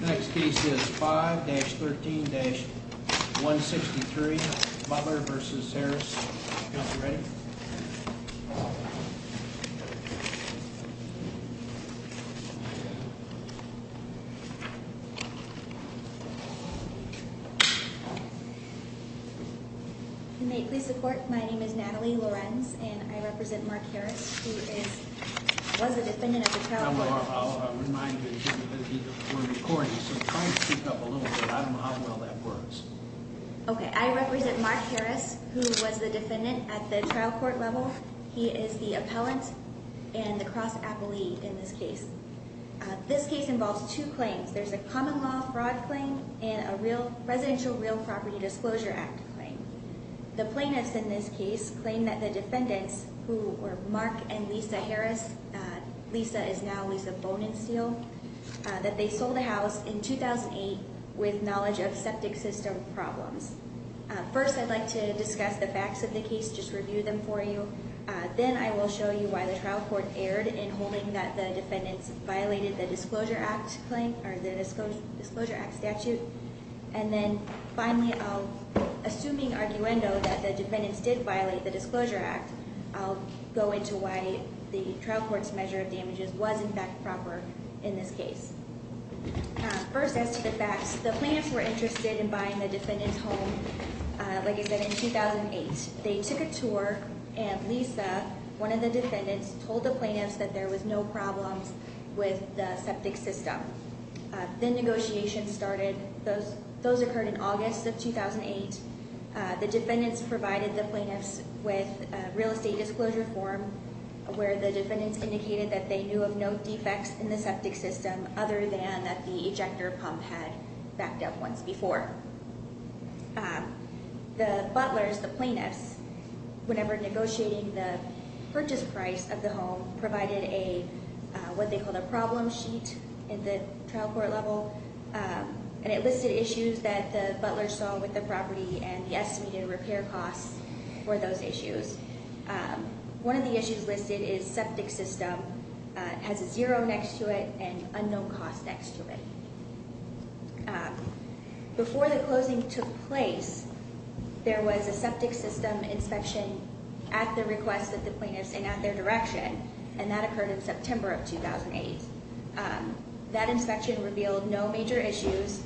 Next case is 5-13-163 Butler v. Harris. Counselor, ready? You may please support. My name is Natalie Lorenz and I represent Mark Harris. He was a defendant of the trial. I'll remind you that we're recording, so try and speak up a little bit. I don't know how well that works. Okay, I represent Mark Harris, who was the defendant at the trial court level. He is the appellant and the cross-appellee in this case. This case involves two claims. There's a common law fraud claim and a residential real property disclosure act claim. The plaintiffs in this case claim that the defendants, who were Mark and Lisa Harris, Lisa is now Lisa Bone and Steel, that they sold the house in 2008 with knowledge of septic system problems. First, I'd like to discuss the facts of the case, just review them for you. Then I will show you why the trial court erred in holding that the defendants violated the disclosure act statute. And then finally, assuming arguendo that the defendants did violate the disclosure act, I'll go into why the trial court's measure of damages was in fact proper in this case. First, as to the facts, the plaintiffs were interested in buying the defendants' home, like I said, in 2008. They took a tour and Lisa, one of the defendants, told the plaintiffs that there was no problems with the septic system. Then negotiation started. Those occurred in August of 2008. The defendants provided the plaintiffs with a real estate disclosure form where the defendants indicated that they knew of no defects in the septic system other than that the ejector pump had backed up once before. The butlers, the plaintiffs, whenever negotiating the purchase price of the home, provided what they called a problem sheet in the trial court level, and it listed issues that the butlers saw with the property and the estimated repair costs for those issues. One of the issues listed is septic system has a zero next to it and unknown cost next to it. Before the closing took place, there was a septic system inspection at the request of the plaintiffs and at their direction, and that occurred in September of 2008. That inspection revealed no major issues.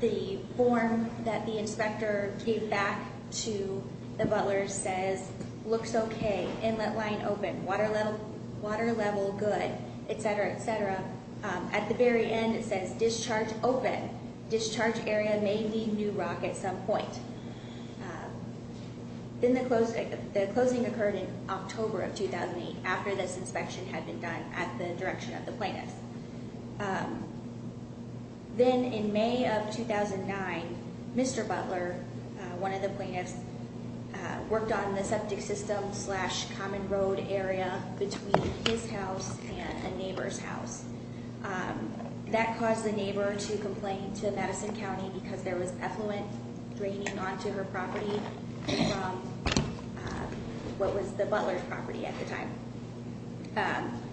The form that the inspector gave back to the butlers says, looks okay, inlet line open, water level good, et cetera, et cetera. At the very end, it says discharge open. Discharge area may need new rock at some point. The closing occurred in October of 2008 after this inspection had been done at the direction of the plaintiffs. Then in May of 2009, Mr. Butler, one of the plaintiffs, worked on the septic system slash common road area between his house and a neighbor's house. That caused the neighbor to complain to Madison County because there was effluent draining onto her property from what was the butler's property at the time.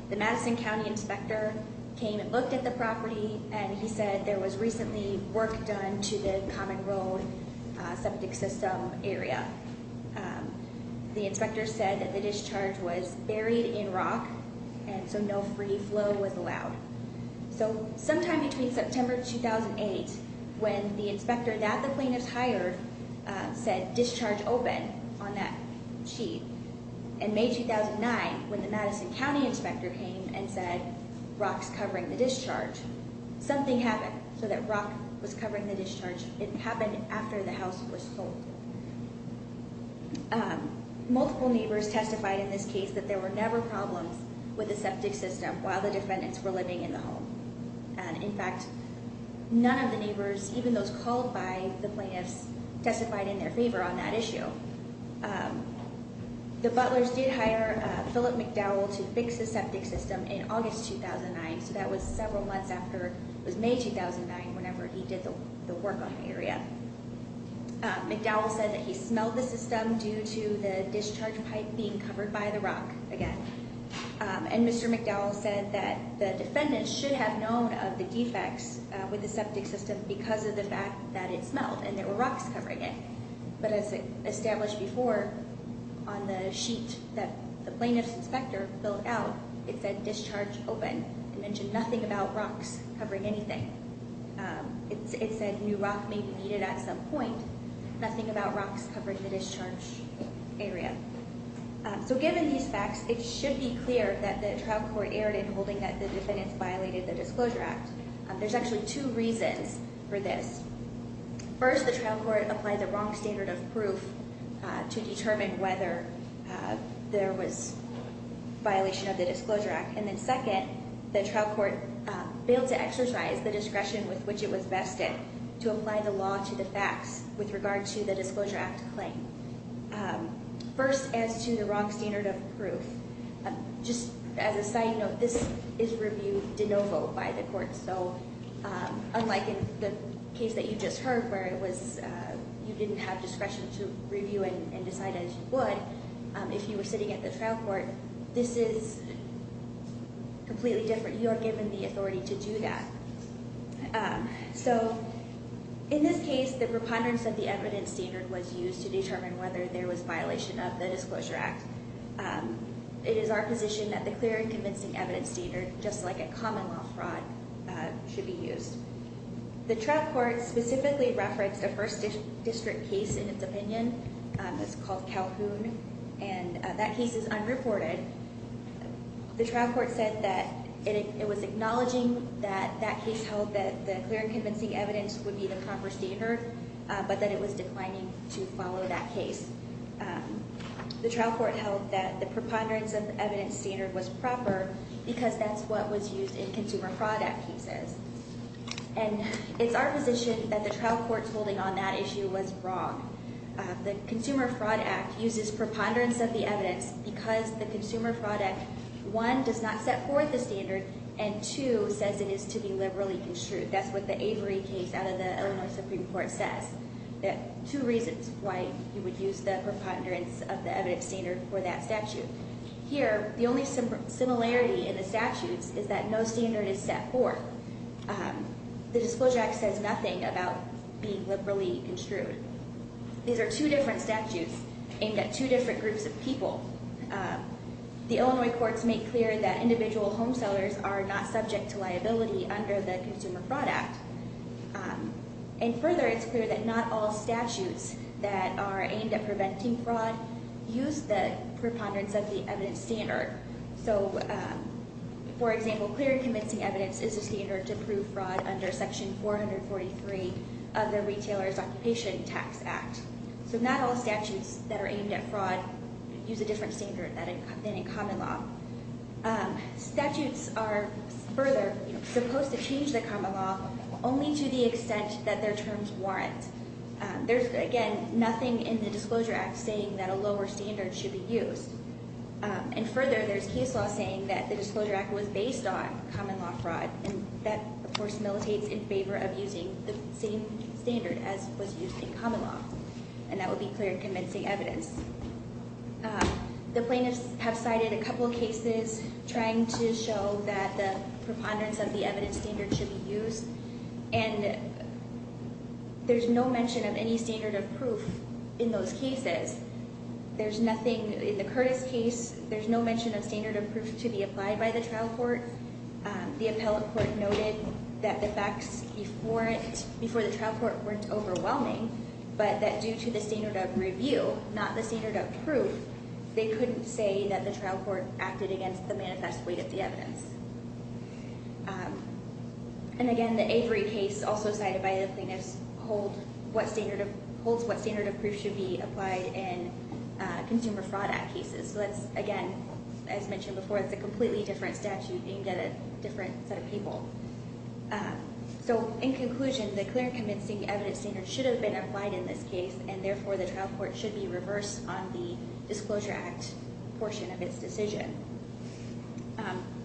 The Madison County inspector came and looked at the property, and he said there was recently work done to the common road septic system area. The inspector said that the discharge was buried in rock, and so no free flow was allowed. Sometime between September 2008, when the inspector that the plaintiffs hired said discharge open on that sheet, and May 2009, when the Madison County inspector came and said rock's covering the discharge, something happened so that rock was covering the discharge. It happened after the house was sold. Multiple neighbors testified in this case that there were never problems with the septic system while the defendants were living in the home. In fact, none of the neighbors, even those called by the plaintiffs, testified in their favor on that issue. The butlers did hire Phillip McDowell to fix the septic system in August 2009, so that was several months after it was May 2009, whenever he did the work on the area. McDowell said that he smelled the system due to the discharge pipe being covered by the rock again. And Mr. McDowell said that the defendants should have known of the defects with the septic system because of the fact that it smelled and there were rocks covering it. But as established before, on the sheet that the plaintiff's inspector filled out, it said discharge open and mentioned nothing about rocks covering anything. It said new rock may be needed at some point, nothing about rocks covering the discharge area. So given these facts, it should be clear that the trial court erred in holding that the defendants violated the Disclosure Act. There's actually two reasons for this. First, the trial court applied the wrong standard of proof to determine whether there was violation of the Disclosure Act. And then second, the trial court failed to exercise the discretion with which it was vested to apply the law to the facts with regard to the Disclosure Act claim. First, as to the wrong standard of proof, just as a side note, this is reviewed de novo by the court. So unlike in the case that you just heard where you didn't have discretion to review and decide as you would, if you were sitting at the trial court, this is completely different. You are given the authority to do that. So in this case, the preponderance of the evidence standard was used to determine whether there was violation of the Disclosure Act. It is our position that the clear and convincing evidence standard, just like a common law fraud, should be used. The trial court specifically referenced a First District case in its opinion. It's called Calhoun, and that case is unreported. The trial court said that it was acknowledging that that case held that the clear and convincing evidence would be the proper standard, but that it was declining to follow that case. The trial court held that the preponderance of the evidence standard was proper because that's what was used in Consumer Fraud Act cases. And it's our position that the trial court's holding on that issue was wrong. The Consumer Fraud Act uses preponderance of the evidence because the Consumer Fraud Act, one, does not set forth the standard, and two, says it is to be liberally construed. That's what the Avery case out of the Illinois Supreme Court says. Two reasons why you would use the preponderance of the evidence standard for that statute. Here, the only similarity in the statutes is that no standard is set forth. The Disclosure Act says nothing about being liberally construed. These are two different statutes aimed at two different groups of people. The Illinois courts make clear that individual home sellers are not subject to liability under the Consumer Fraud Act. And further, it's clear that not all statutes that are aimed at preventing fraud use the preponderance of the evidence standard. So, for example, clear and convincing evidence is a standard to prove fraud under Section 443 of the Retailer's Occupation Tax Act. So not all statutes that are aimed at fraud use a different standard than in common law. Statutes are further supposed to change the common law only to the extent that their terms warrant. There's, again, nothing in the Disclosure Act saying that a lower standard should be used. And further, there's case law saying that the Disclosure Act was based on common law fraud, and that, of course, militates in favor of using the same standard as was used in common law. And that would be clear and convincing evidence. The plaintiffs have cited a couple of cases trying to show that the preponderance of the evidence standard should be used. And there's no mention of any standard of proof in those cases. There's nothing in the Curtis case. There's no mention of standard of proof to be applied by the trial court. However, the appellate court noted that the facts before the trial court weren't overwhelming, but that due to the standard of review, not the standard of proof, they couldn't say that the trial court acted against the manifest weight of the evidence. And again, the Avery case, also cited by the plaintiffs, holds what standard of proof should be applied in Consumer Fraud Act cases. So that's, again, as mentioned before, it's a completely different statute. You can get a different set of people. So in conclusion, the clear and convincing evidence standard should have been applied in this case, and therefore the trial court should be reversed on the Disclosure Act portion of its decision.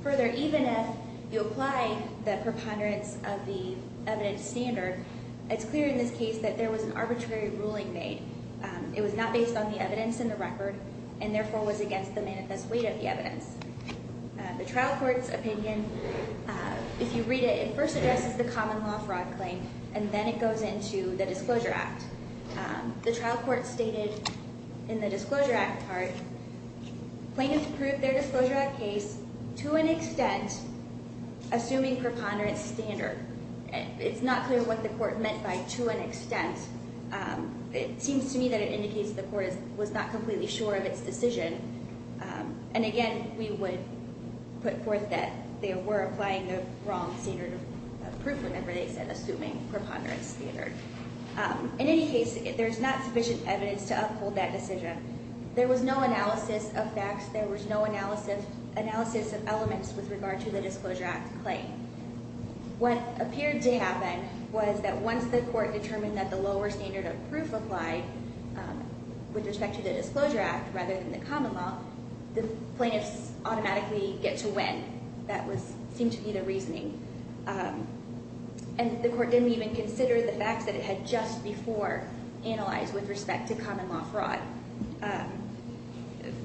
Further, even if you apply the preponderance of the evidence standard, it's clear in this case that there was an arbitrary ruling made. It was not based on the evidence in the record, and therefore was against the manifest weight of the evidence. The trial court's opinion, if you read it, it first addresses the common law fraud claim, and then it goes into the Disclosure Act. The trial court stated in the Disclosure Act part, plaintiffs proved their Disclosure Act case to an extent assuming preponderance standard. It's not clear what the court meant by to an extent. It seems to me that it indicates the court was not completely sure of its decision. And again, we would put forth that they were applying the wrong standard of proof, whenever they said assuming preponderance standard. In any case, there's not sufficient evidence to uphold that decision. There was no analysis of facts. There was no analysis of elements with regard to the Disclosure Act claim. What appeared to happen was that once the court determined that the lower standard of proof applied with respect to the Disclosure Act rather than the common law, the plaintiffs automatically get to win. That seemed to be the reasoning. And the court didn't even consider the facts that it had just before analyzed with respect to common law fraud.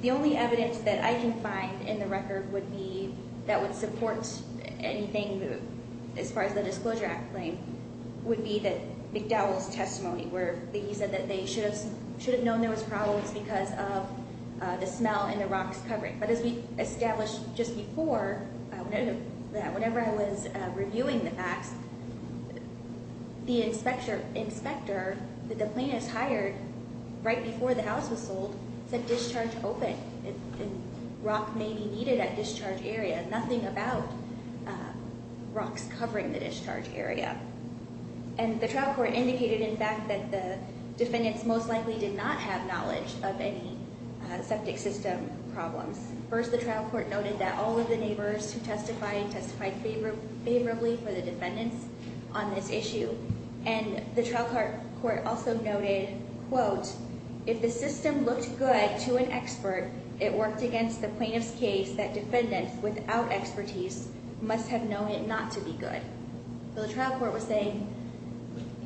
The only evidence that I can find in the record that would support anything as far as the Disclosure Act claim would be that McDowell's testimony where he said that they should have known there was problems because of the smell and the rocks covering. But as we established just before, whenever I was reviewing the facts, the inspector that the plaintiffs hired right before the house was sold said discharge open and rock may be needed at discharge area. Nothing about rocks covering the discharge area. And the trial court indicated, in fact, that the defendants most likely did not have knowledge of any septic system problems. First, the trial court noted that all of the neighbors who testified testified favorably for the defendants on this issue. And the trial court also noted, quote, if the system looked good to an expert, it worked against the plaintiff's case that defendants without expertise must have known it not to be good. So the trial court was saying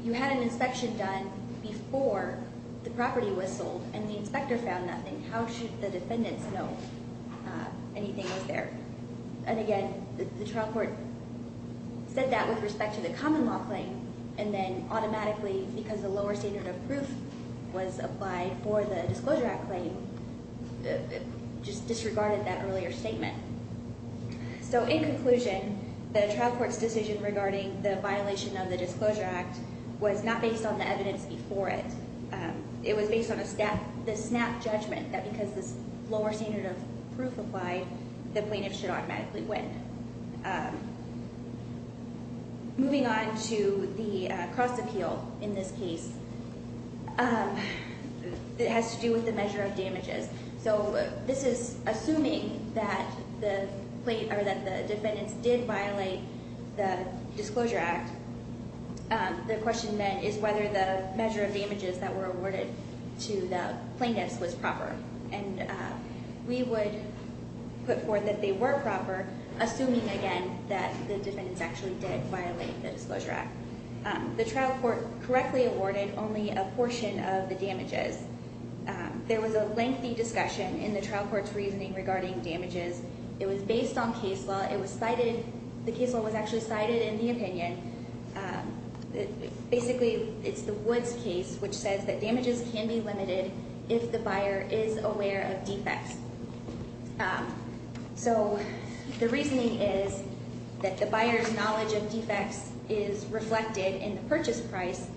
you had an inspection done before the property was sold and the inspector found nothing. How should the defendants know anything was there? And again, the trial court said that with respect to the common law claim, and then automatically, because the lower standard of proof was applied for the Disclosure Act claim, just disregarded that earlier statement. So in conclusion, the trial court's decision regarding the violation of the Disclosure Act was not based on the evidence before it. It was based on a snap judgment that because this lower standard of proof applied, the plaintiff should automatically win. Moving on to the cross appeal in this case, it has to do with the measure of damages. So this is assuming that the defendants did violate the Disclosure Act. The question then is whether the measure of damages that were awarded to the plaintiffs was proper. And we would put forth that they were proper, assuming again that the defendants actually did violate the Disclosure Act. The trial court correctly awarded only a portion of the damages. There was a lengthy discussion in the trial court's reasoning regarding damages. It was based on case law. The case law was actually cited in the opinion. Basically, it's the Woods case, which says that damages can be limited if the buyer is aware of defects. So the reasoning is that the buyer's knowledge of defects is reflected in the purchase price,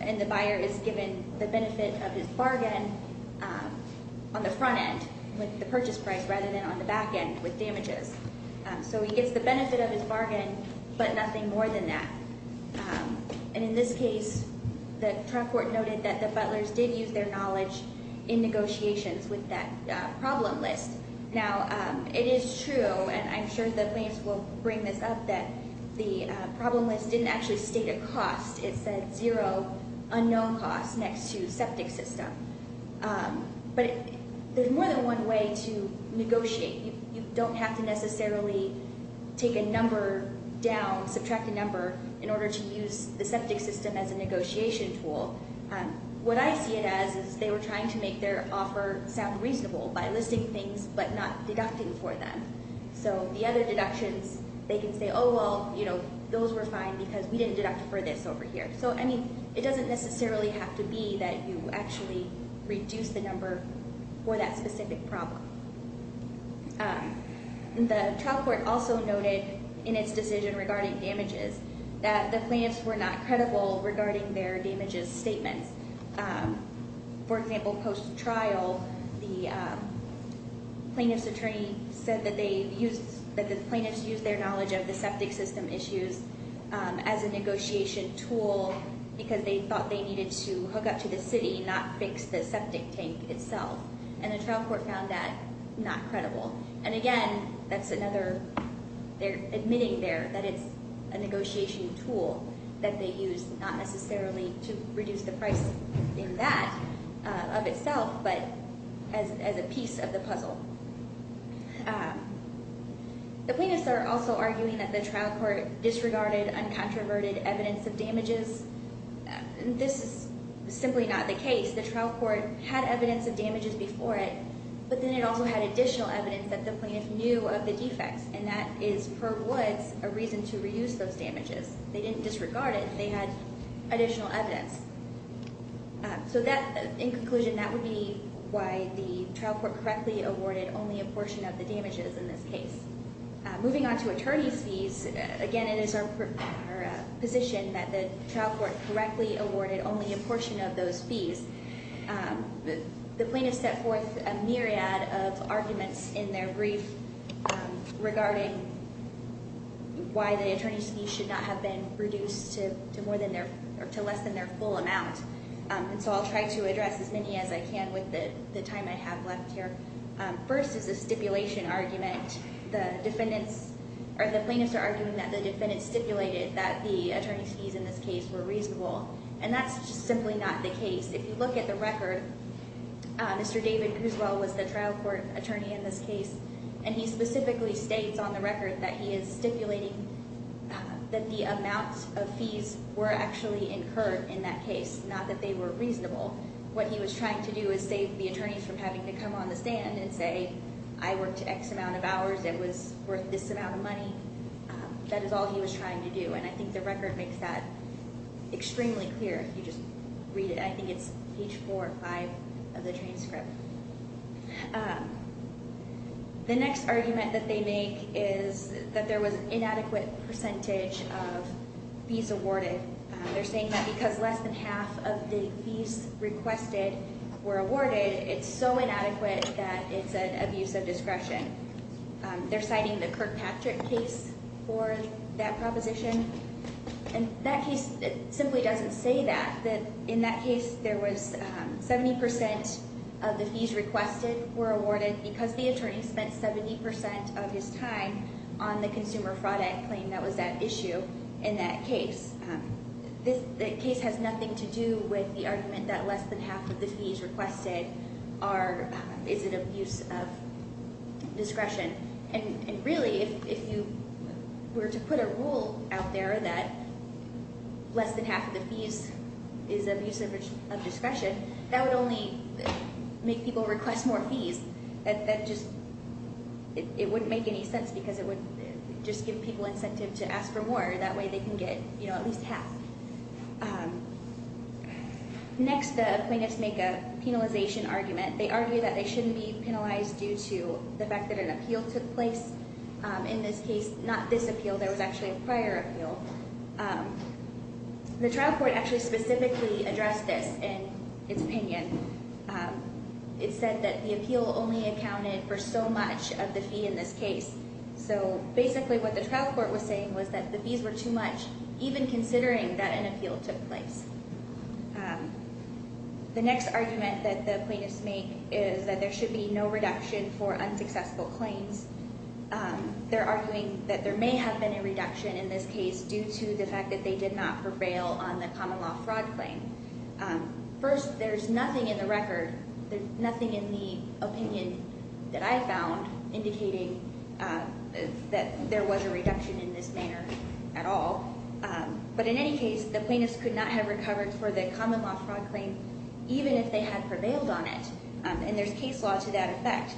and the buyer is given the benefit of his bargain on the front end with the purchase price rather than on the back end with damages. So he gets the benefit of his bargain, but nothing more than that. And in this case, the trial court noted that the butlers did use their knowledge in negotiations with that problem list. Now, it is true, and I'm sure the plaintiffs will bring this up, that the problem list didn't actually state a cost. It said zero unknown costs next to septic system. But there's more than one way to negotiate. You don't have to necessarily take a number down, subtract a number, in order to use the septic system as a negotiation tool. What I see it as is they were trying to make their offer sound reasonable by listing things but not deducting for them. So the other deductions, they can say, oh, well, you know, those were fine because we didn't deduct for this over here. So, I mean, it doesn't necessarily have to be that you actually reduce the number for that specific problem. The trial court also noted in its decision regarding damages that the plaintiffs were not credible regarding their damages statements. For example, post-trial, the plaintiff's attorney said that the plaintiffs used their knowledge of the septic system issues as a negotiation tool because they thought they needed to hook up to the city, not fix the septic tank itself. And the trial court found that not credible. And again, that's another, they're admitting there that it's a negotiation tool that they used not necessarily to reduce the price in that of itself, but as a piece of the puzzle. The plaintiffs are also arguing that the trial court disregarded uncontroverted evidence of damages. This is simply not the case. The trial court had evidence of damages before it, but then it also had additional evidence that the plaintiff knew of the defects. And that is, per Woods, a reason to reduce those damages. They didn't disregard it. They had additional evidence. So that, in conclusion, that would be why the trial court correctly awarded only a portion of the damages in this case. Moving on to attorney's fees, again, it is our position that the trial court correctly awarded only a portion of those fees. The plaintiffs set forth a myriad of arguments in their brief regarding why the attorney's fees should not have been reduced to less than their full amount. And so I'll try to address as many as I can with the time I have left here. First is a stipulation argument. The defendants or the plaintiffs are arguing that the defendants stipulated that the attorney's fees in this case were reasonable. And that's just simply not the case. If you look at the record, Mr. David Cruzwell was the trial court attorney in this case, and he specifically states on the record that he is stipulating that the amount of fees were actually incurred in that case, not that they were reasonable. What he was trying to do is save the attorneys from having to come on the stand and say, I worked X amount of hours, it was worth this amount of money. That is all he was trying to do. And I think the record makes that extremely clear if you just read it. I think it's page four or five of the transcript. The next argument that they make is that there was an inadequate percentage of fees awarded. They're saying that because less than half of the fees requested were awarded, it's so inadequate that it's an abuse of discretion. They're citing the Kirkpatrick case for that proposition. And that case simply doesn't say that. In that case, 70% of the fees requested were awarded because the attorney spent 70% of his time on the consumer fraud act claim that was at issue in that case. The case has nothing to do with the argument that less than half of the fees requested is an abuse of discretion. And really, if you were to put a rule out there that less than half of the fees is abuse of discretion, that would only make people request more fees. It wouldn't make any sense because it would just give people incentive to ask for more. That way they can get at least half. Next, the plaintiffs make a penalization argument. They argue that they shouldn't be penalized due to the fact that an appeal took place. In this case, not this appeal. There was actually a prior appeal. The trial court actually specifically addressed this in its opinion. It said that the appeal only accounted for so much of the fee in this case. So basically what the trial court was saying was that the fees were too much, even considering that an appeal took place. The next argument that the plaintiffs make is that there should be no reduction for unsuccessful claims. They're arguing that there may have been a reduction in this case due to the fact that they did not prevail on the common law fraud claim. First, there's nothing in the record, nothing in the opinion that I found indicating that there was a reduction in this manner at all. But in any case, the plaintiffs could not have recovered for the common law fraud claim even if they had prevailed on it. And there's case law to that effect.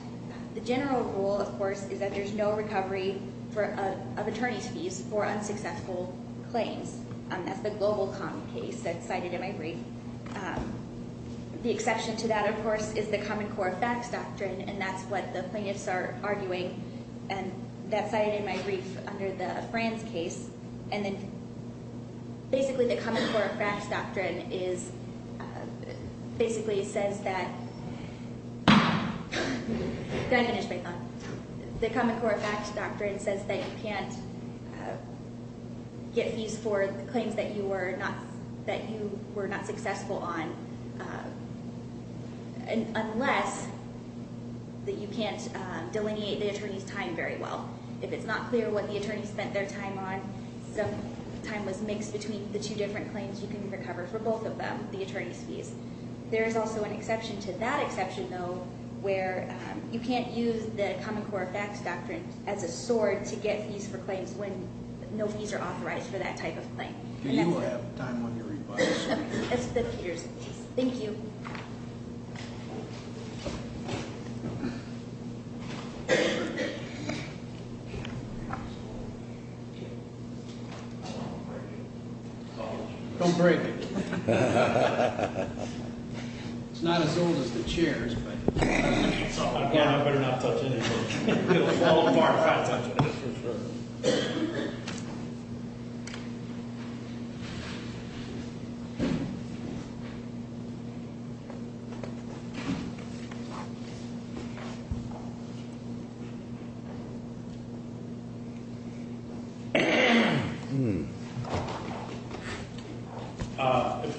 The general rule, of course, is that there's no recovery of attorney's fees for unsuccessful claims. That's the GlobalCom case that's cited in my brief. The exception to that, of course, is the Common Core Effects Doctrine, and that's what the plaintiffs are arguing. And that's cited in my brief under the France case. And then basically the Common Core Effects Doctrine is – basically says that – did I finish my thought? The Common Core Effects Doctrine says that you can't get fees for the claims that you were not successful on unless that you can't delineate the attorney's time very well. If it's not clear what the attorney spent their time on, some time was mixed between the two different claims, you can recover for both of them, the attorney's fees. There is also an exception to that exception, though, where you can't use the Common Core Effects Doctrine as a sword to get fees for claims when no fees are authorized for that type of claim. Do you have time on your rebuttal? Yes, Mr. Peters, please. Thank you. Don't break it. It's not as old as the chair. I better not touch anything. It'll fall apart if I touch it. Thank you. If you'll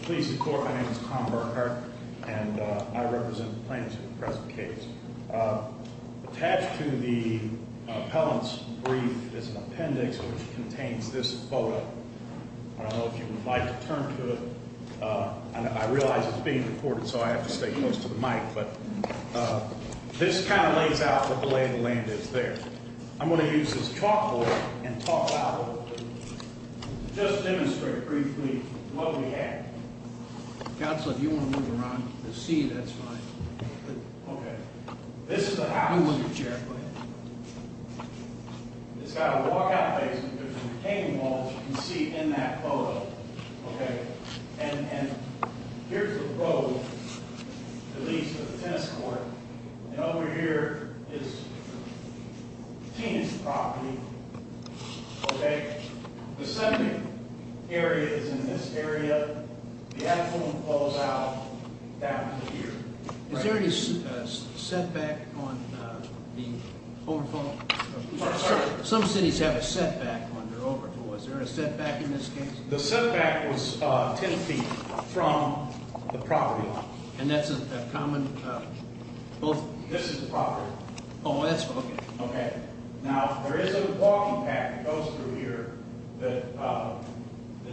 please support, my name is Tom Berker, and I represent the plaintiffs in the present case. Attached to the appellant's brief is an appendix which contains this photo. I don't know if you would like to turn to it. I realize it's being recorded, so I have to stay close to the mic, but this kind of lays out what the lay of the land is there. I'm going to use this chalkboard and talk out of it. Just demonstrate briefly what we have. Counselor, do you want to move around? I see you, that's fine. Okay. This is an appellant's chair. It's got a walk-out basement. There's a retaining wall, as you can see in that photo. Okay. And here's the road that leads to the tennis court. And over here is Tina's property. Okay. The center area is in this area. The appellant falls out down to here. Is there any setback on the overflow? Some cities have a setback on their overflow. Is there a setback in this case? The setback was 10 feet from the property line. And that's a common... This is the property line. Oh, that's... Okay. Now, there is a walking path that goes through here that's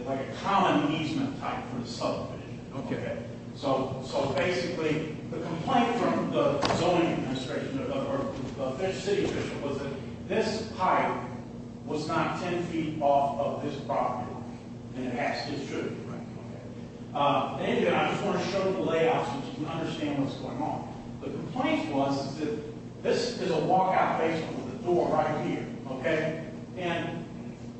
like a common easement type for the subdivision. Okay. So basically, the complaint from the zoning administration or the city official was that this pipe was not 10 feet off of this property. And it actually should be. Right. Anyway, I just want to show you the layout so that you can understand what's going on. The complaint was that this is a walkout basement with a door right here. Okay. And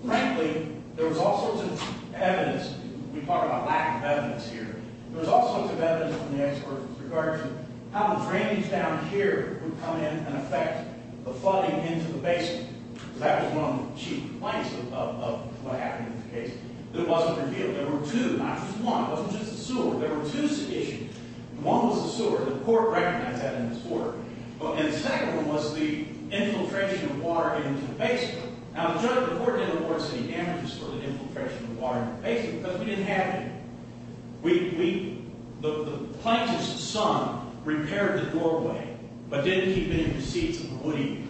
frankly, there was all sorts of evidence. We talk about lack of evidence here. There was all sorts of evidence from the experts with regards to how the drainage down here would come in and affect the flooding into the basement. So that was one of the chief complaints of what happened in this case. But it wasn't revealed. There were two, not just one. It wasn't just the sewer. There were two subdivisions. One was the sewer. The court recognized that in this court. And the second one was the infiltration of water into the basement. Now, the court didn't report any damages for the infiltration of water into the basement because we didn't have any. We – the plaintiff's son repaired the doorway but didn't keep it in the seats of the woodies.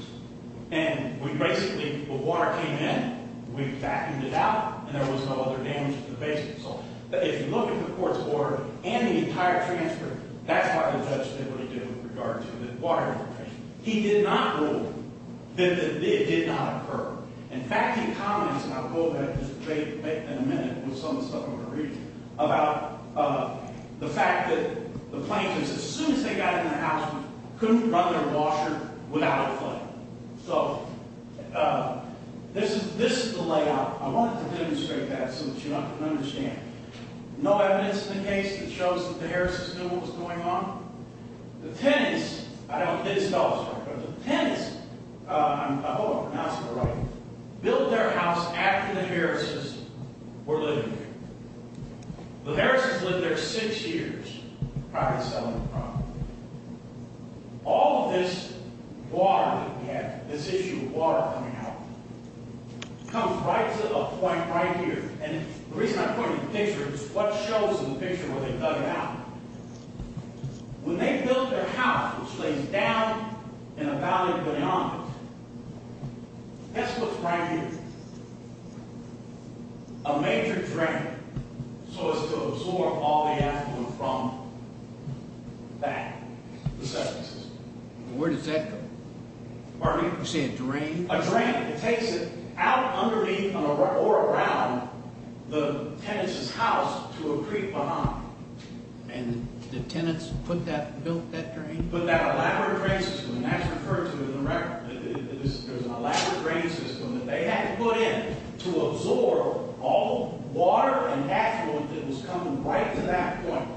And we basically – well, water came in, we vacuumed it out, and there was no other damage to the basement. So if you look at the court's order and the entire transfer, that's why the judge did what he did with regard to the water infiltration. He did not rule that it did not occur. In fact, he comments – and I'll go over that debate in a minute with some of the stuff I'm going to read – about the fact that the plaintiffs, as soon as they got in the house, couldn't run their washer without a flood. So this is the layout. I wanted to demonstrate that so that you all can understand. No evidence in the case that shows that the Harris's knew what was going on. The Tennis – I don't think it's Telstra, but the Tennis – I hope I'm pronouncing it right – built their house after the Harris's were living there. The Harris's lived there six years prior to selling the property. All of this water that we have, this issue of water coming out, comes right to a point right here. And the reason I'm pointing the picture is what shows in the picture where they dug it out. When they built their house, which lays down in a valley of banyan trees, that's what's right here. A major drain, so as to absorb all the afternoon from that. Where does that go? Pardon me? You're saying a drain? A drain that takes it out underneath or around the Tennis's house to a creek behind. And the Tennis put that – built that drain? He put that elaborate drain system, and that's referred to in the record. There's an elaborate drain system that they had to put in to absorb all the water and afternoon that was coming right to that point.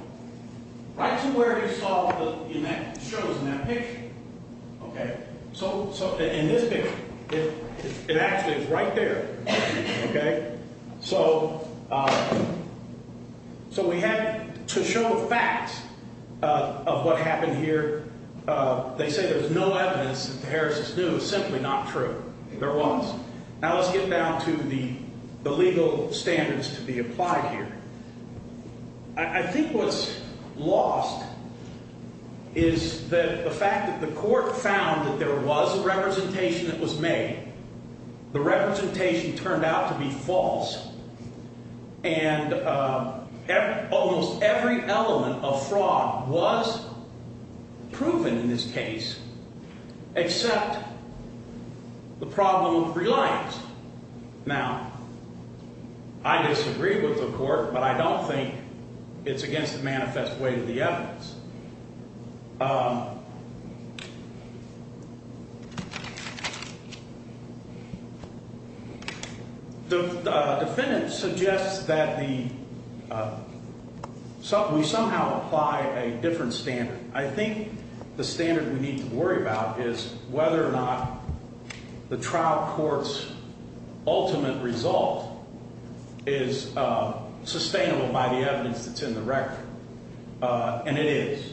Right to where you saw in that – shows in that picture. Okay? So in this picture, it actually is right there. Okay? So we have to show facts of what happened here. They say there's no evidence that the Harris's knew. It's simply not true. There was. Now let's get down to the legal standards to be applied here. I think what's lost is the fact that the court found that there was a representation that was made. The representation turned out to be false, and almost every element of fraud was proven in this case except the problem of reliance. Now, I disagree with the court, but I don't think it's against the manifest way of the evidence. The defendant suggests that the – we somehow apply a different standard. I think the standard we need to worry about is whether or not the trial court's ultimate result is sustainable by the evidence that's in the record. And it is.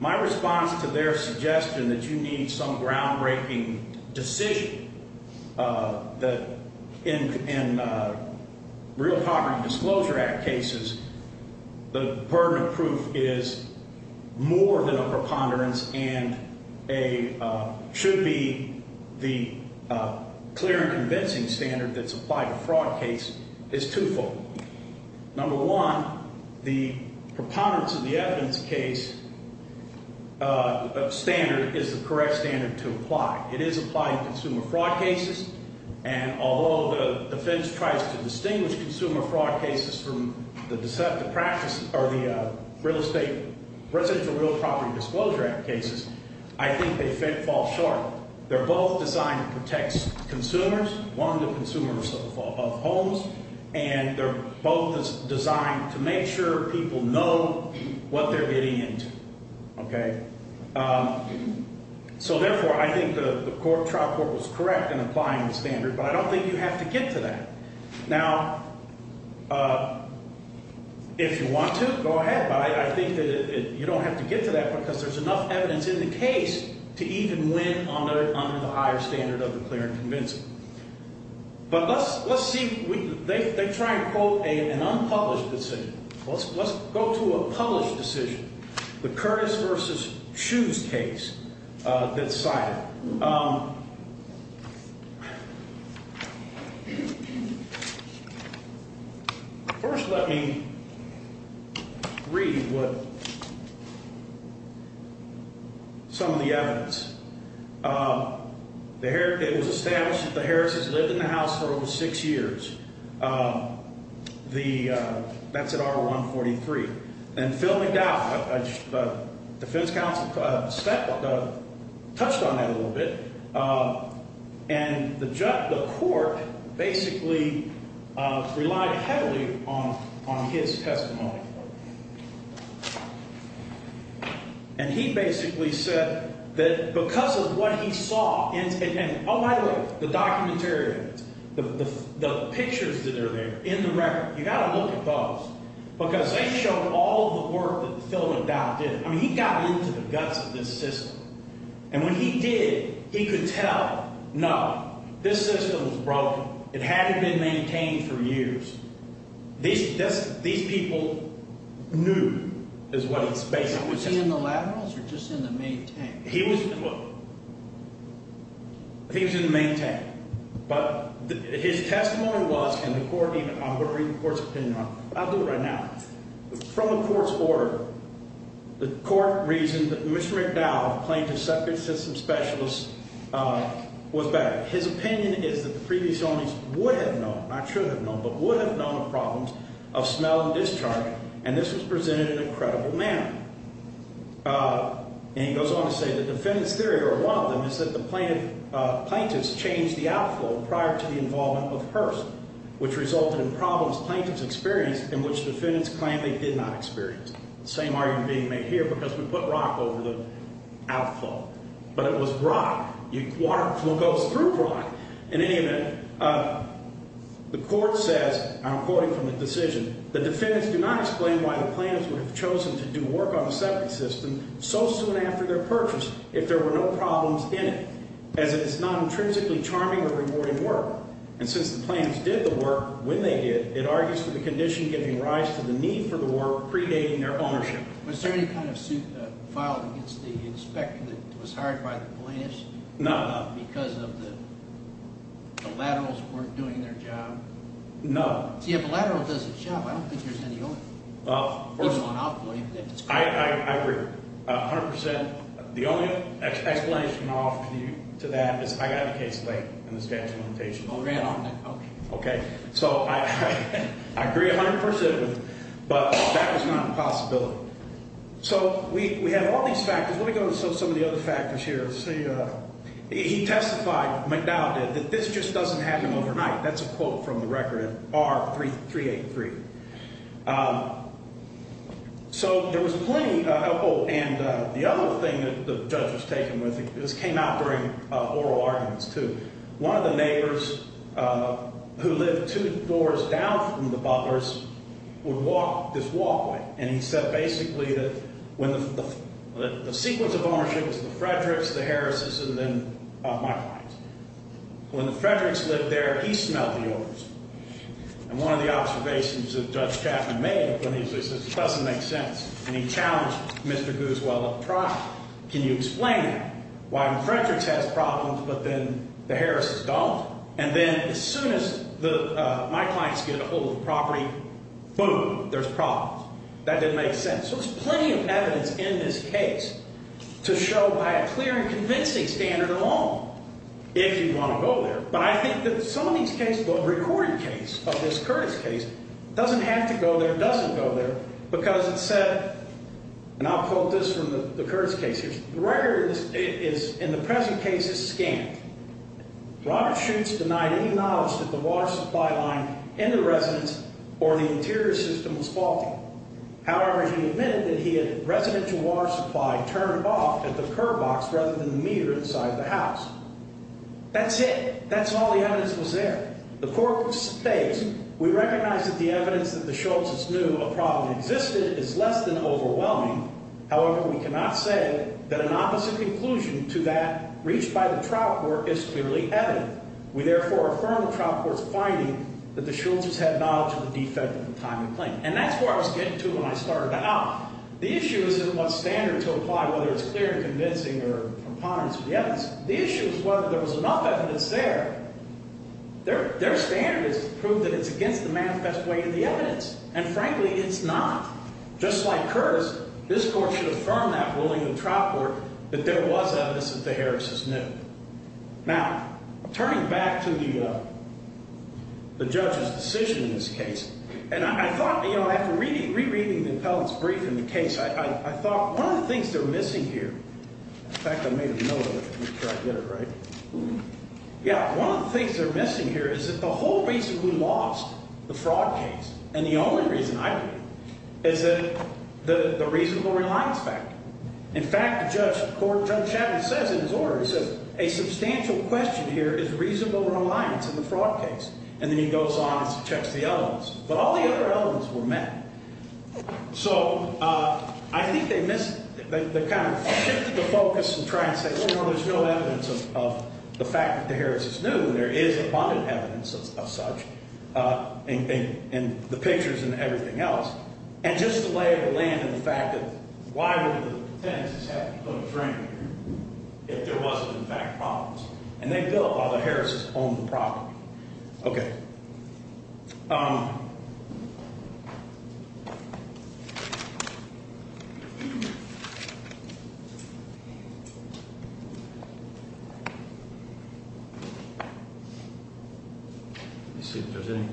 My response to their suggestion that you need some groundbreaking decision that in real poverty disclosure act cases, the burden of proof is more than a preponderance and a – should be the clear and convincing standard that's applied to a fraud case is twofold. Number one, the preponderance of the evidence case standard is the correct standard to apply. It is applied to consumer fraud cases, and although the defense tries to distinguish consumer fraud cases from the deceptive practices – or the real estate – residential real property disclosure act cases, I think they fall short. They're both designed to protect consumers, one, the consumers of homes, and they're both designed to make sure people know what they're getting into. Okay? So therefore, I think the trial court was correct in applying the standard, but I don't think you have to get to that. Now, if you want to, go ahead, but I think that you don't have to get to that because there's enough evidence in the case to even win under the higher standard of the clear and convincing. But let's see – they try and quote an unpublished decision. Let's go to a published decision, the Curtis v. Shoes case that's cited. First, let me read what – some of the evidence. It was established that the Harris's lived in the house for over six years. That's at R143. And fill me down. The defense counsel touched on that a little bit. And the court basically relied heavily on his testimony. And he basically said that because of what he saw – and oh, by the way, the documentary, the pictures that are there in the record, you've got to look at those because they show all the work that Phil McDowell did. I mean, he got into the guts of this system. And when he did, he could tell, no, this system was broken. It hadn't been maintained for years. These people knew is what he basically said. Was he in the laterals or just in the main tank? He was in the – look, he was in the main tank. But his testimony was, and the court even – I'm going to read the court's opinion on it. I'll do it right now. From the court's order, the court reasoned that Mr. McDowell, plaintiff's separate system specialist, was better. His opinion is that the previous owners would have known, not should have known, but would have known the problems of smell and discharge, and this was presented in a credible manner. And he goes on to say the defendant's theory, or one of them, is that the plaintiff's changed the outflow prior to the involvement of Hearst, which resulted in problems plaintiffs experienced in which defendants claim they did not experience. The same argument being made here because we put rock over the outflow. But it was rock. Water flow goes through rock. In any event, the court says, and I'm quoting from the decision, the defendants do not explain why the plaintiffs would have chosen to do work on a separate system so soon after their purchase if there were no problems in it, as it is not intrinsically charming or rewarding work. And since the plaintiffs did the work when they did, it argues for the condition giving rise to the need for the work predating their ownership. Was there any kind of suit filed against the inspector that was hired by the plaintiffs? No. Because of the laterals who weren't doing their job? No. See, if a lateral does its job, I don't think there's any other reason on outflow. I agree 100%. The only explanation I'll offer to that is I got a case late in the statute of limitations. Oh, ran on that. Okay. So I agree 100%, but that was not a possibility. So we have all these factors. Let me go through some of the other factors here. Let's see. He testified, McDowell did, that this just doesn't happen overnight. That's a quote from the record in R383. So there was plenty. Oh, and the other thing that the judge was taken with, this came out during oral arguments, too. One of the neighbors who lived two doors down from the Butler's would walk this walkway, and he said basically that the sequence of ownership was the Frederick's, the Harris's, and then my client's. When the Frederick's lived there, he smelled the odors. And one of the observations that Judge Chapman made when he was there, he says, it doesn't make sense, and he challenged Mr. Gooswell up front, can you explain that, why the Frederick's has problems but then the Harris's don't? And then as soon as my clients get a hold of the property, boom, there's problems. That didn't make sense. So there's plenty of evidence in this case to show by a clear and convincing standard of law if you want to go there. But I think that some of these cases, the recording case of this Curtis case, doesn't have to go there, doesn't go there because it said, and I'll quote this from the Curtis case here, the record is in the present case is scant. Robert Schutz denied any knowledge that the water supply line in the residence or the interior system was faulty. However, he admitted that he had residential water supply turned off at the curb box rather than the meter inside the house. That's it. That's all the evidence was there. The court states, we recognize that the evidence that the Schultz's knew a problem existed is less than overwhelming. However, we cannot say that an opposite conclusion to that reached by the trial court is clearly evident. We therefore affirm the trial court's finding that the Schultz's had knowledge of the defect at the time of the claim. And that's where I was getting to when I started out. The issue isn't what standard to apply, whether it's clear and convincing or from ponderance of the evidence. The issue is whether there was enough evidence there. Their standard is to prove that it's against the manifest way of the evidence. And frankly, it's not. Just like Curtis, this court should affirm that ruling in the trial court that there was evidence that the Harris's knew. Now, turning back to the judge's decision in this case, and I thought, you know, after rereading the appellant's brief in the case, I thought one of the things they're missing here. In fact, I made a note of it before I did it, right? Yeah. One of the things they're missing here is that the whole reason we lost the fraud case, and the only reason I believe, is that the reasonable reliance factor. In fact, the judge, the court judge says in his order, he says, a substantial question here is reasonable reliance in the fraud case. And then he goes on and checks the elements. But all the other elements were met. So I think they missed, they kind of shifted the focus and tried to say, well, you know, there's no evidence of the fact that the Harris's knew, and there is abundant evidence of such in the pictures and everything else. And just the lay of the land and the fact that why would the tenants have to put a frame here if there wasn't, in fact, problems? And they built while the Harris's owned the property. Okay. Let me see if there's any.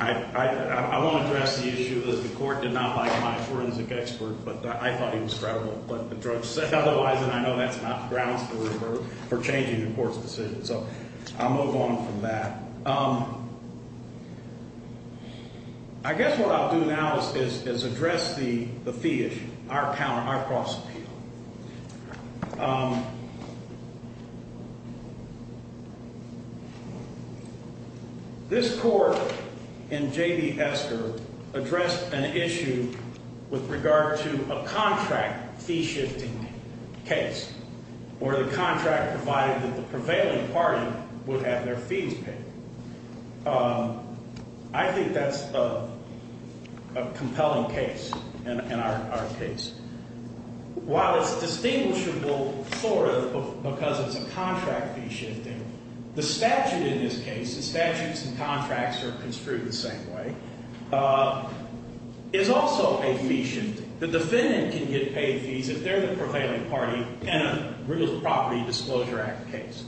I won't address the issue that the court did not like my forensic expert, but I thought he was credible. But the judge said otherwise, and I know that's not grounds for changing the court's decision. So I'll move on from that. I guess what I'll do now is address the fee issue, our counter, our cross-appeal. This court in J.D. Esker addressed an issue with regard to a contract fee shifting case where the contract provided that the prevailing party would have their fees paid. I think that's a compelling case in our case. While it's distinguishable sort of because it's a contract fee shifting, the statute in this case, the statutes and contracts are construed the same way, is also a fee shifting. The defendant can get paid fees if they're the prevailing party in a real property disclosure act case.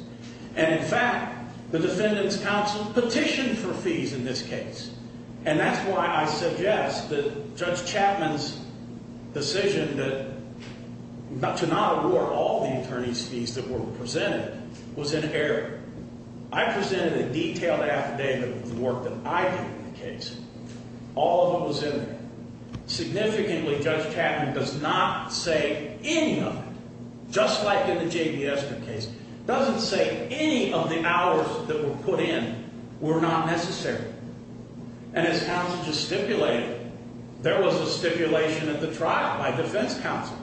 And, in fact, the defendant's counsel petitioned for fees in this case. And that's why I suggest that Judge Chapman's decision to not award all the attorney's fees that were presented was an error. I presented a detailed affidavit of the work that I did in the case. All of it was in there. And his counsel just stipulated. There was a stipulation at the trial by defense counsel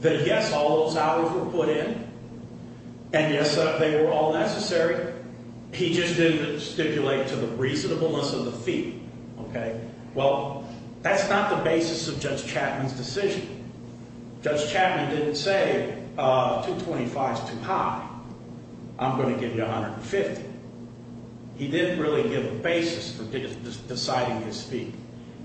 that, yes, all those hours were put in, and, yes, they were all necessary. He just didn't stipulate to the reasonableness of the fee. Okay? Well, that's not the basis of Judge Chapman's decision. Judge Chapman didn't say $225 is too high. I'm going to give you $150. He didn't really give a basis for deciding his fee.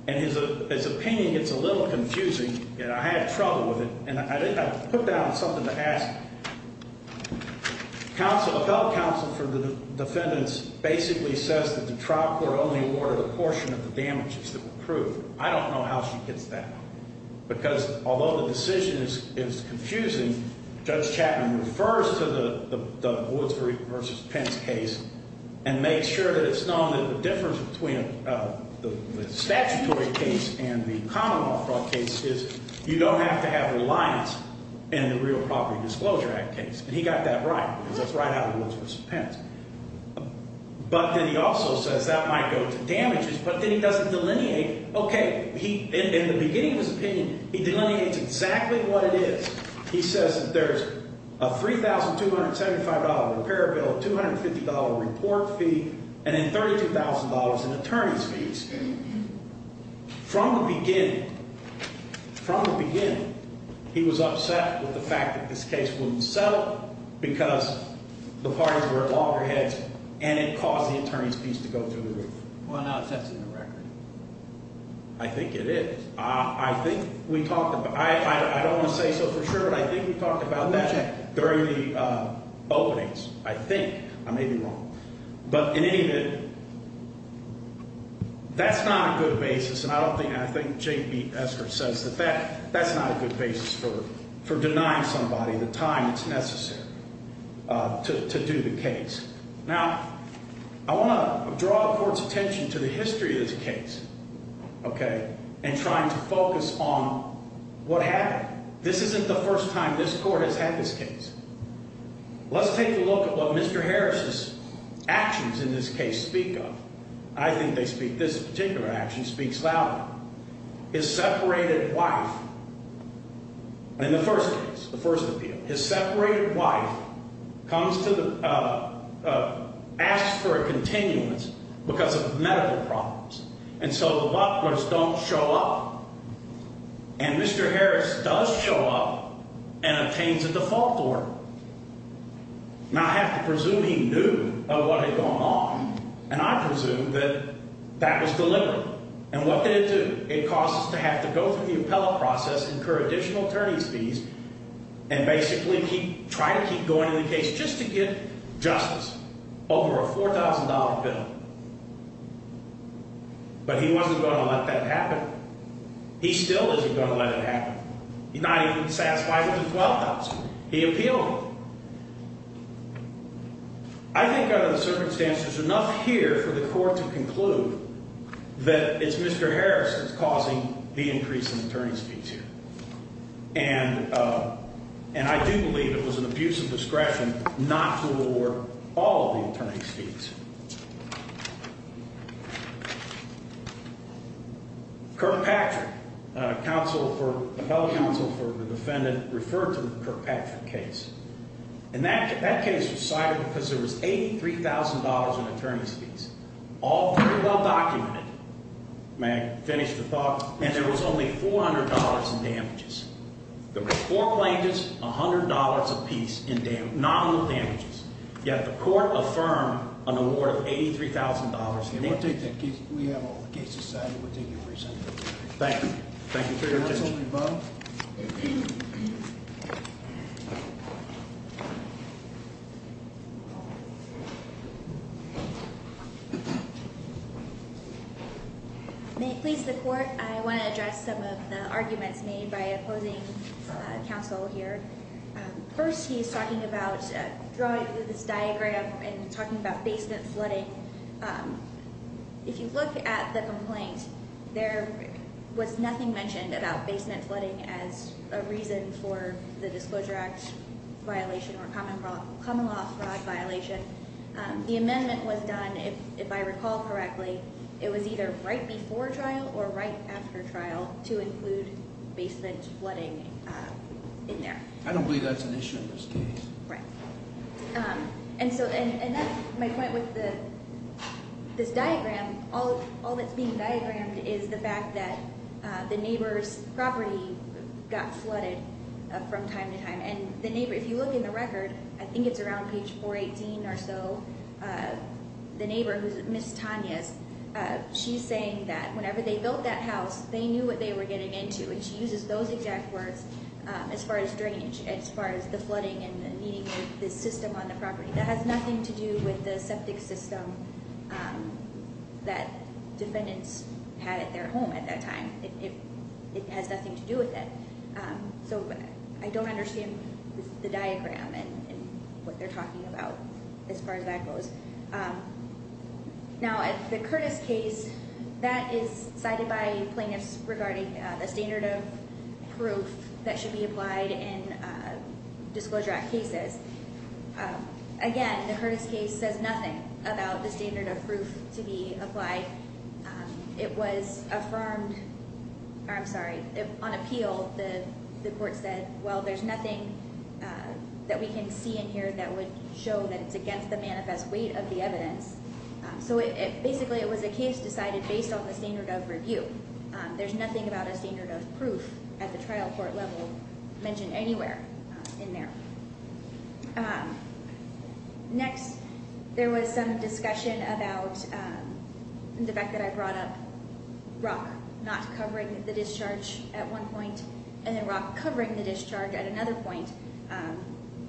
And his opinion gets a little confusing, and I had trouble with it. And I put down something to ask counsel about counsel for the defendants basically says that the trial court only awarded a portion of the damages that were proved. I don't know how she gets that. Because although the decision is confusing, Judge Chapman refers to the Woods v. Pence case and makes sure that it's known that the difference between the statutory case and the common law case is you don't have to have reliance in the real property disclosure act case. And he got that right because that's right out of Woods v. Pence. But then he also says that might go to damages, but then he doesn't delineate. Okay. In the beginning of his opinion, he delineates exactly what it is. He says that there's a $3,275 repair bill, a $250 report fee, and then $32,000 in attorney's fees. From the beginning, from the beginning, he was upset with the fact that this case wouldn't settle because the parties were at loggerheads and it caused the attorney's fees to go through the roof. Well, now it sets a new record. I think it is. I think we talked about – I don't want to say so for sure, but I think we talked about that during the openings. I think. I may be wrong. But in any event, that's not a good basis, and I don't think – I think Jane B. Esker says that that's not a good basis for denying somebody the time that's necessary to do the case. Now, I want to draw the court's attention to the history of this case, okay, and trying to focus on what happened. This isn't the first time this court has had this case. Let's take a look at what Mr. Harris's actions in this case speak of. I think they speak – this particular action speaks louder. His separated wife – in the first case, the first appeal, his separated wife comes to the – asks for a continuance because of medical problems, and so the butlers don't show up. And Mr. Harris does show up and obtains a default order. Now, I have to presume he knew of what had gone on, and I presume that that was deliberate. And what did it do? It caused us to have to go through the appellate process, incur additional attorney's fees, and basically keep – try to keep going in the case just to get justice over a $4,000 bill. But he wasn't going to let that happen. He still isn't going to let it happen. He's not even satisfied with the $12,000. He appealed it. I think under the circumstances, enough here for the court to conclude that it's Mr. Harris that's causing the increase in attorney's fees here. And I do believe it was an abuse of discretion not to award all of the attorney's fees. Kirkpatrick, counsel for – appellate counsel for the defendant referred to the Kirkpatrick case. And that case was cited because there was $83,000 in attorney's fees, all very well documented. May I finish the thought? And there was only $400 in damages. There were four plaintiffs, $100 apiece in nominal damages. Yet the court affirmed an award of $83,000. We have all the cases cited. We'll take your presentation. Thank you. Thank you for your attention. The case will be closed. May it please the court, I want to address some of the arguments made by opposing counsel here. First, he's talking about drawing this diagram and talking about basement flooding. If you look at the complaint, there was nothing mentioned about basement flooding as a reason for the Disclosure Act violation or common law fraud violation. The amendment was done, if I recall correctly, it was either right before trial or right after trial to include basement flooding in there. I don't believe that's an issue in this case. Right. And that's my point with this diagram. All that's being diagrammed is the fact that the neighbor's property got flooded from time to time. And if you look in the record, I think it's around page 418 or so, the neighbor, who's Ms. Tanya's, she's saying that whenever they built that house, they knew what they were getting into. And she uses those exact words as far as drainage, as far as the flooding and the needing of the system on the property. That has nothing to do with the septic system that defendants had at their home at that time. It has nothing to do with that. So I don't understand the diagram and what they're talking about as far as that goes. Now, the Curtis case, that is cited by plaintiffs regarding the standard of proof that should be applied in disclosure act cases. Again, the Curtis case says nothing about the standard of proof to be applied. It was affirmed. I'm sorry. On appeal, the court said, well, there's nothing that we can see in here that would show that it's against the manifest weight of the evidence. So basically, it was a case decided based on the standard of review. There's nothing about a standard of proof at the trial court level mentioned anywhere in there. Next, there was some discussion about the fact that I brought up rock not covering the discharge at one point and then rock covering the discharge at another point.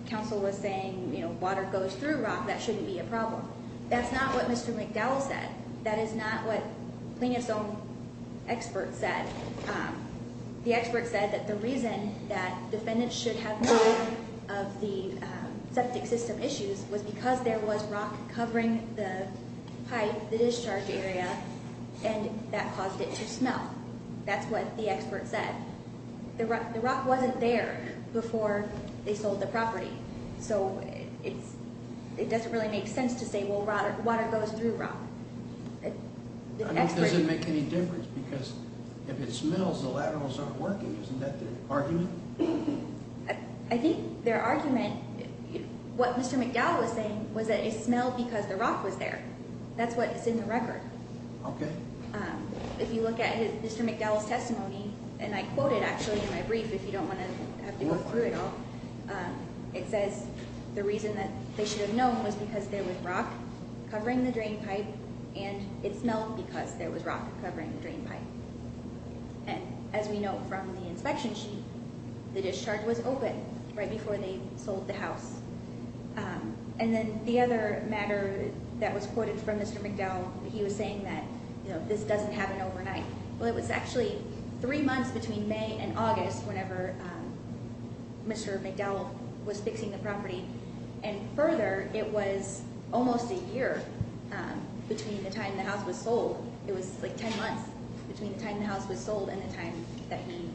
Counsel was saying, you know, water goes through rock. That shouldn't be a problem. That's not what Mr. McDowell said. That is not what plaintiff's own expert said. The expert said that the reason that defendants should have no of the septic system issues was because there was rock covering the pipe, the discharge area, and that caused it to smell. That's what the expert said. The rock wasn't there before they sold the property. So it doesn't really make sense to say, well, water goes through rock. I mean, does it make any difference? Because if it smells, the laterals aren't working. Isn't that their argument? I think their argument, what Mr. McDowell was saying, was that it smelled because the rock was there. That's what's in the record. If you look at Mr. McDowell's testimony, and I quote it actually in my brief if you don't want to have to go through it all. It says the reason that they should have known was because there was rock covering the drain pipe, and it smelled because there was rock covering the drain pipe. And as we know from the inspection sheet, the discharge was open right before they sold the house. And then the other matter that was quoted from Mr. McDowell, he was saying that this doesn't happen overnight. Well, it was actually three months between May and August whenever Mr. McDowell was fixing the property. And further, it was almost a year between the time the house was sold. It was like ten months between the time the house was sold and the time that he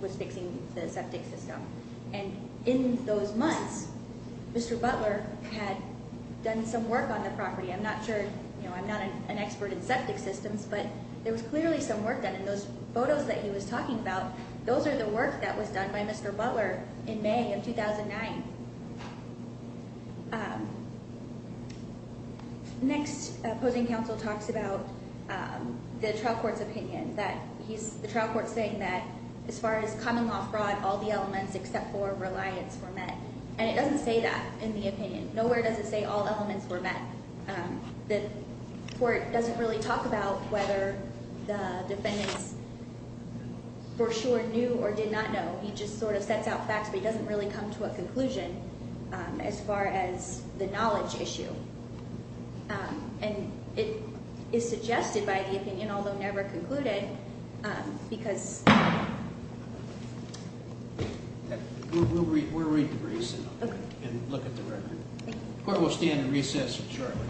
was fixing the septic system. And in those months, Mr. Butler had done some work on the property. I'm not sure, you know, I'm not an expert in septic systems, but there was clearly some work done. And those photos that he was talking about, those are the work that was done by Mr. Butler in May of 2009. Next, opposing counsel talks about the trial court's opinion. The trial court's saying that as far as common law fraud, all the elements except for reliance were met. Nowhere does it say all elements were met. The court doesn't really talk about whether the defendants for sure knew or did not know. He just sort of sets out facts, but he doesn't really come to a conclusion as far as the knowledge issue. And it is suggested by the opinion, although never concluded, because- We'll read the briefs and look at the record. The court will stand in recess shortly.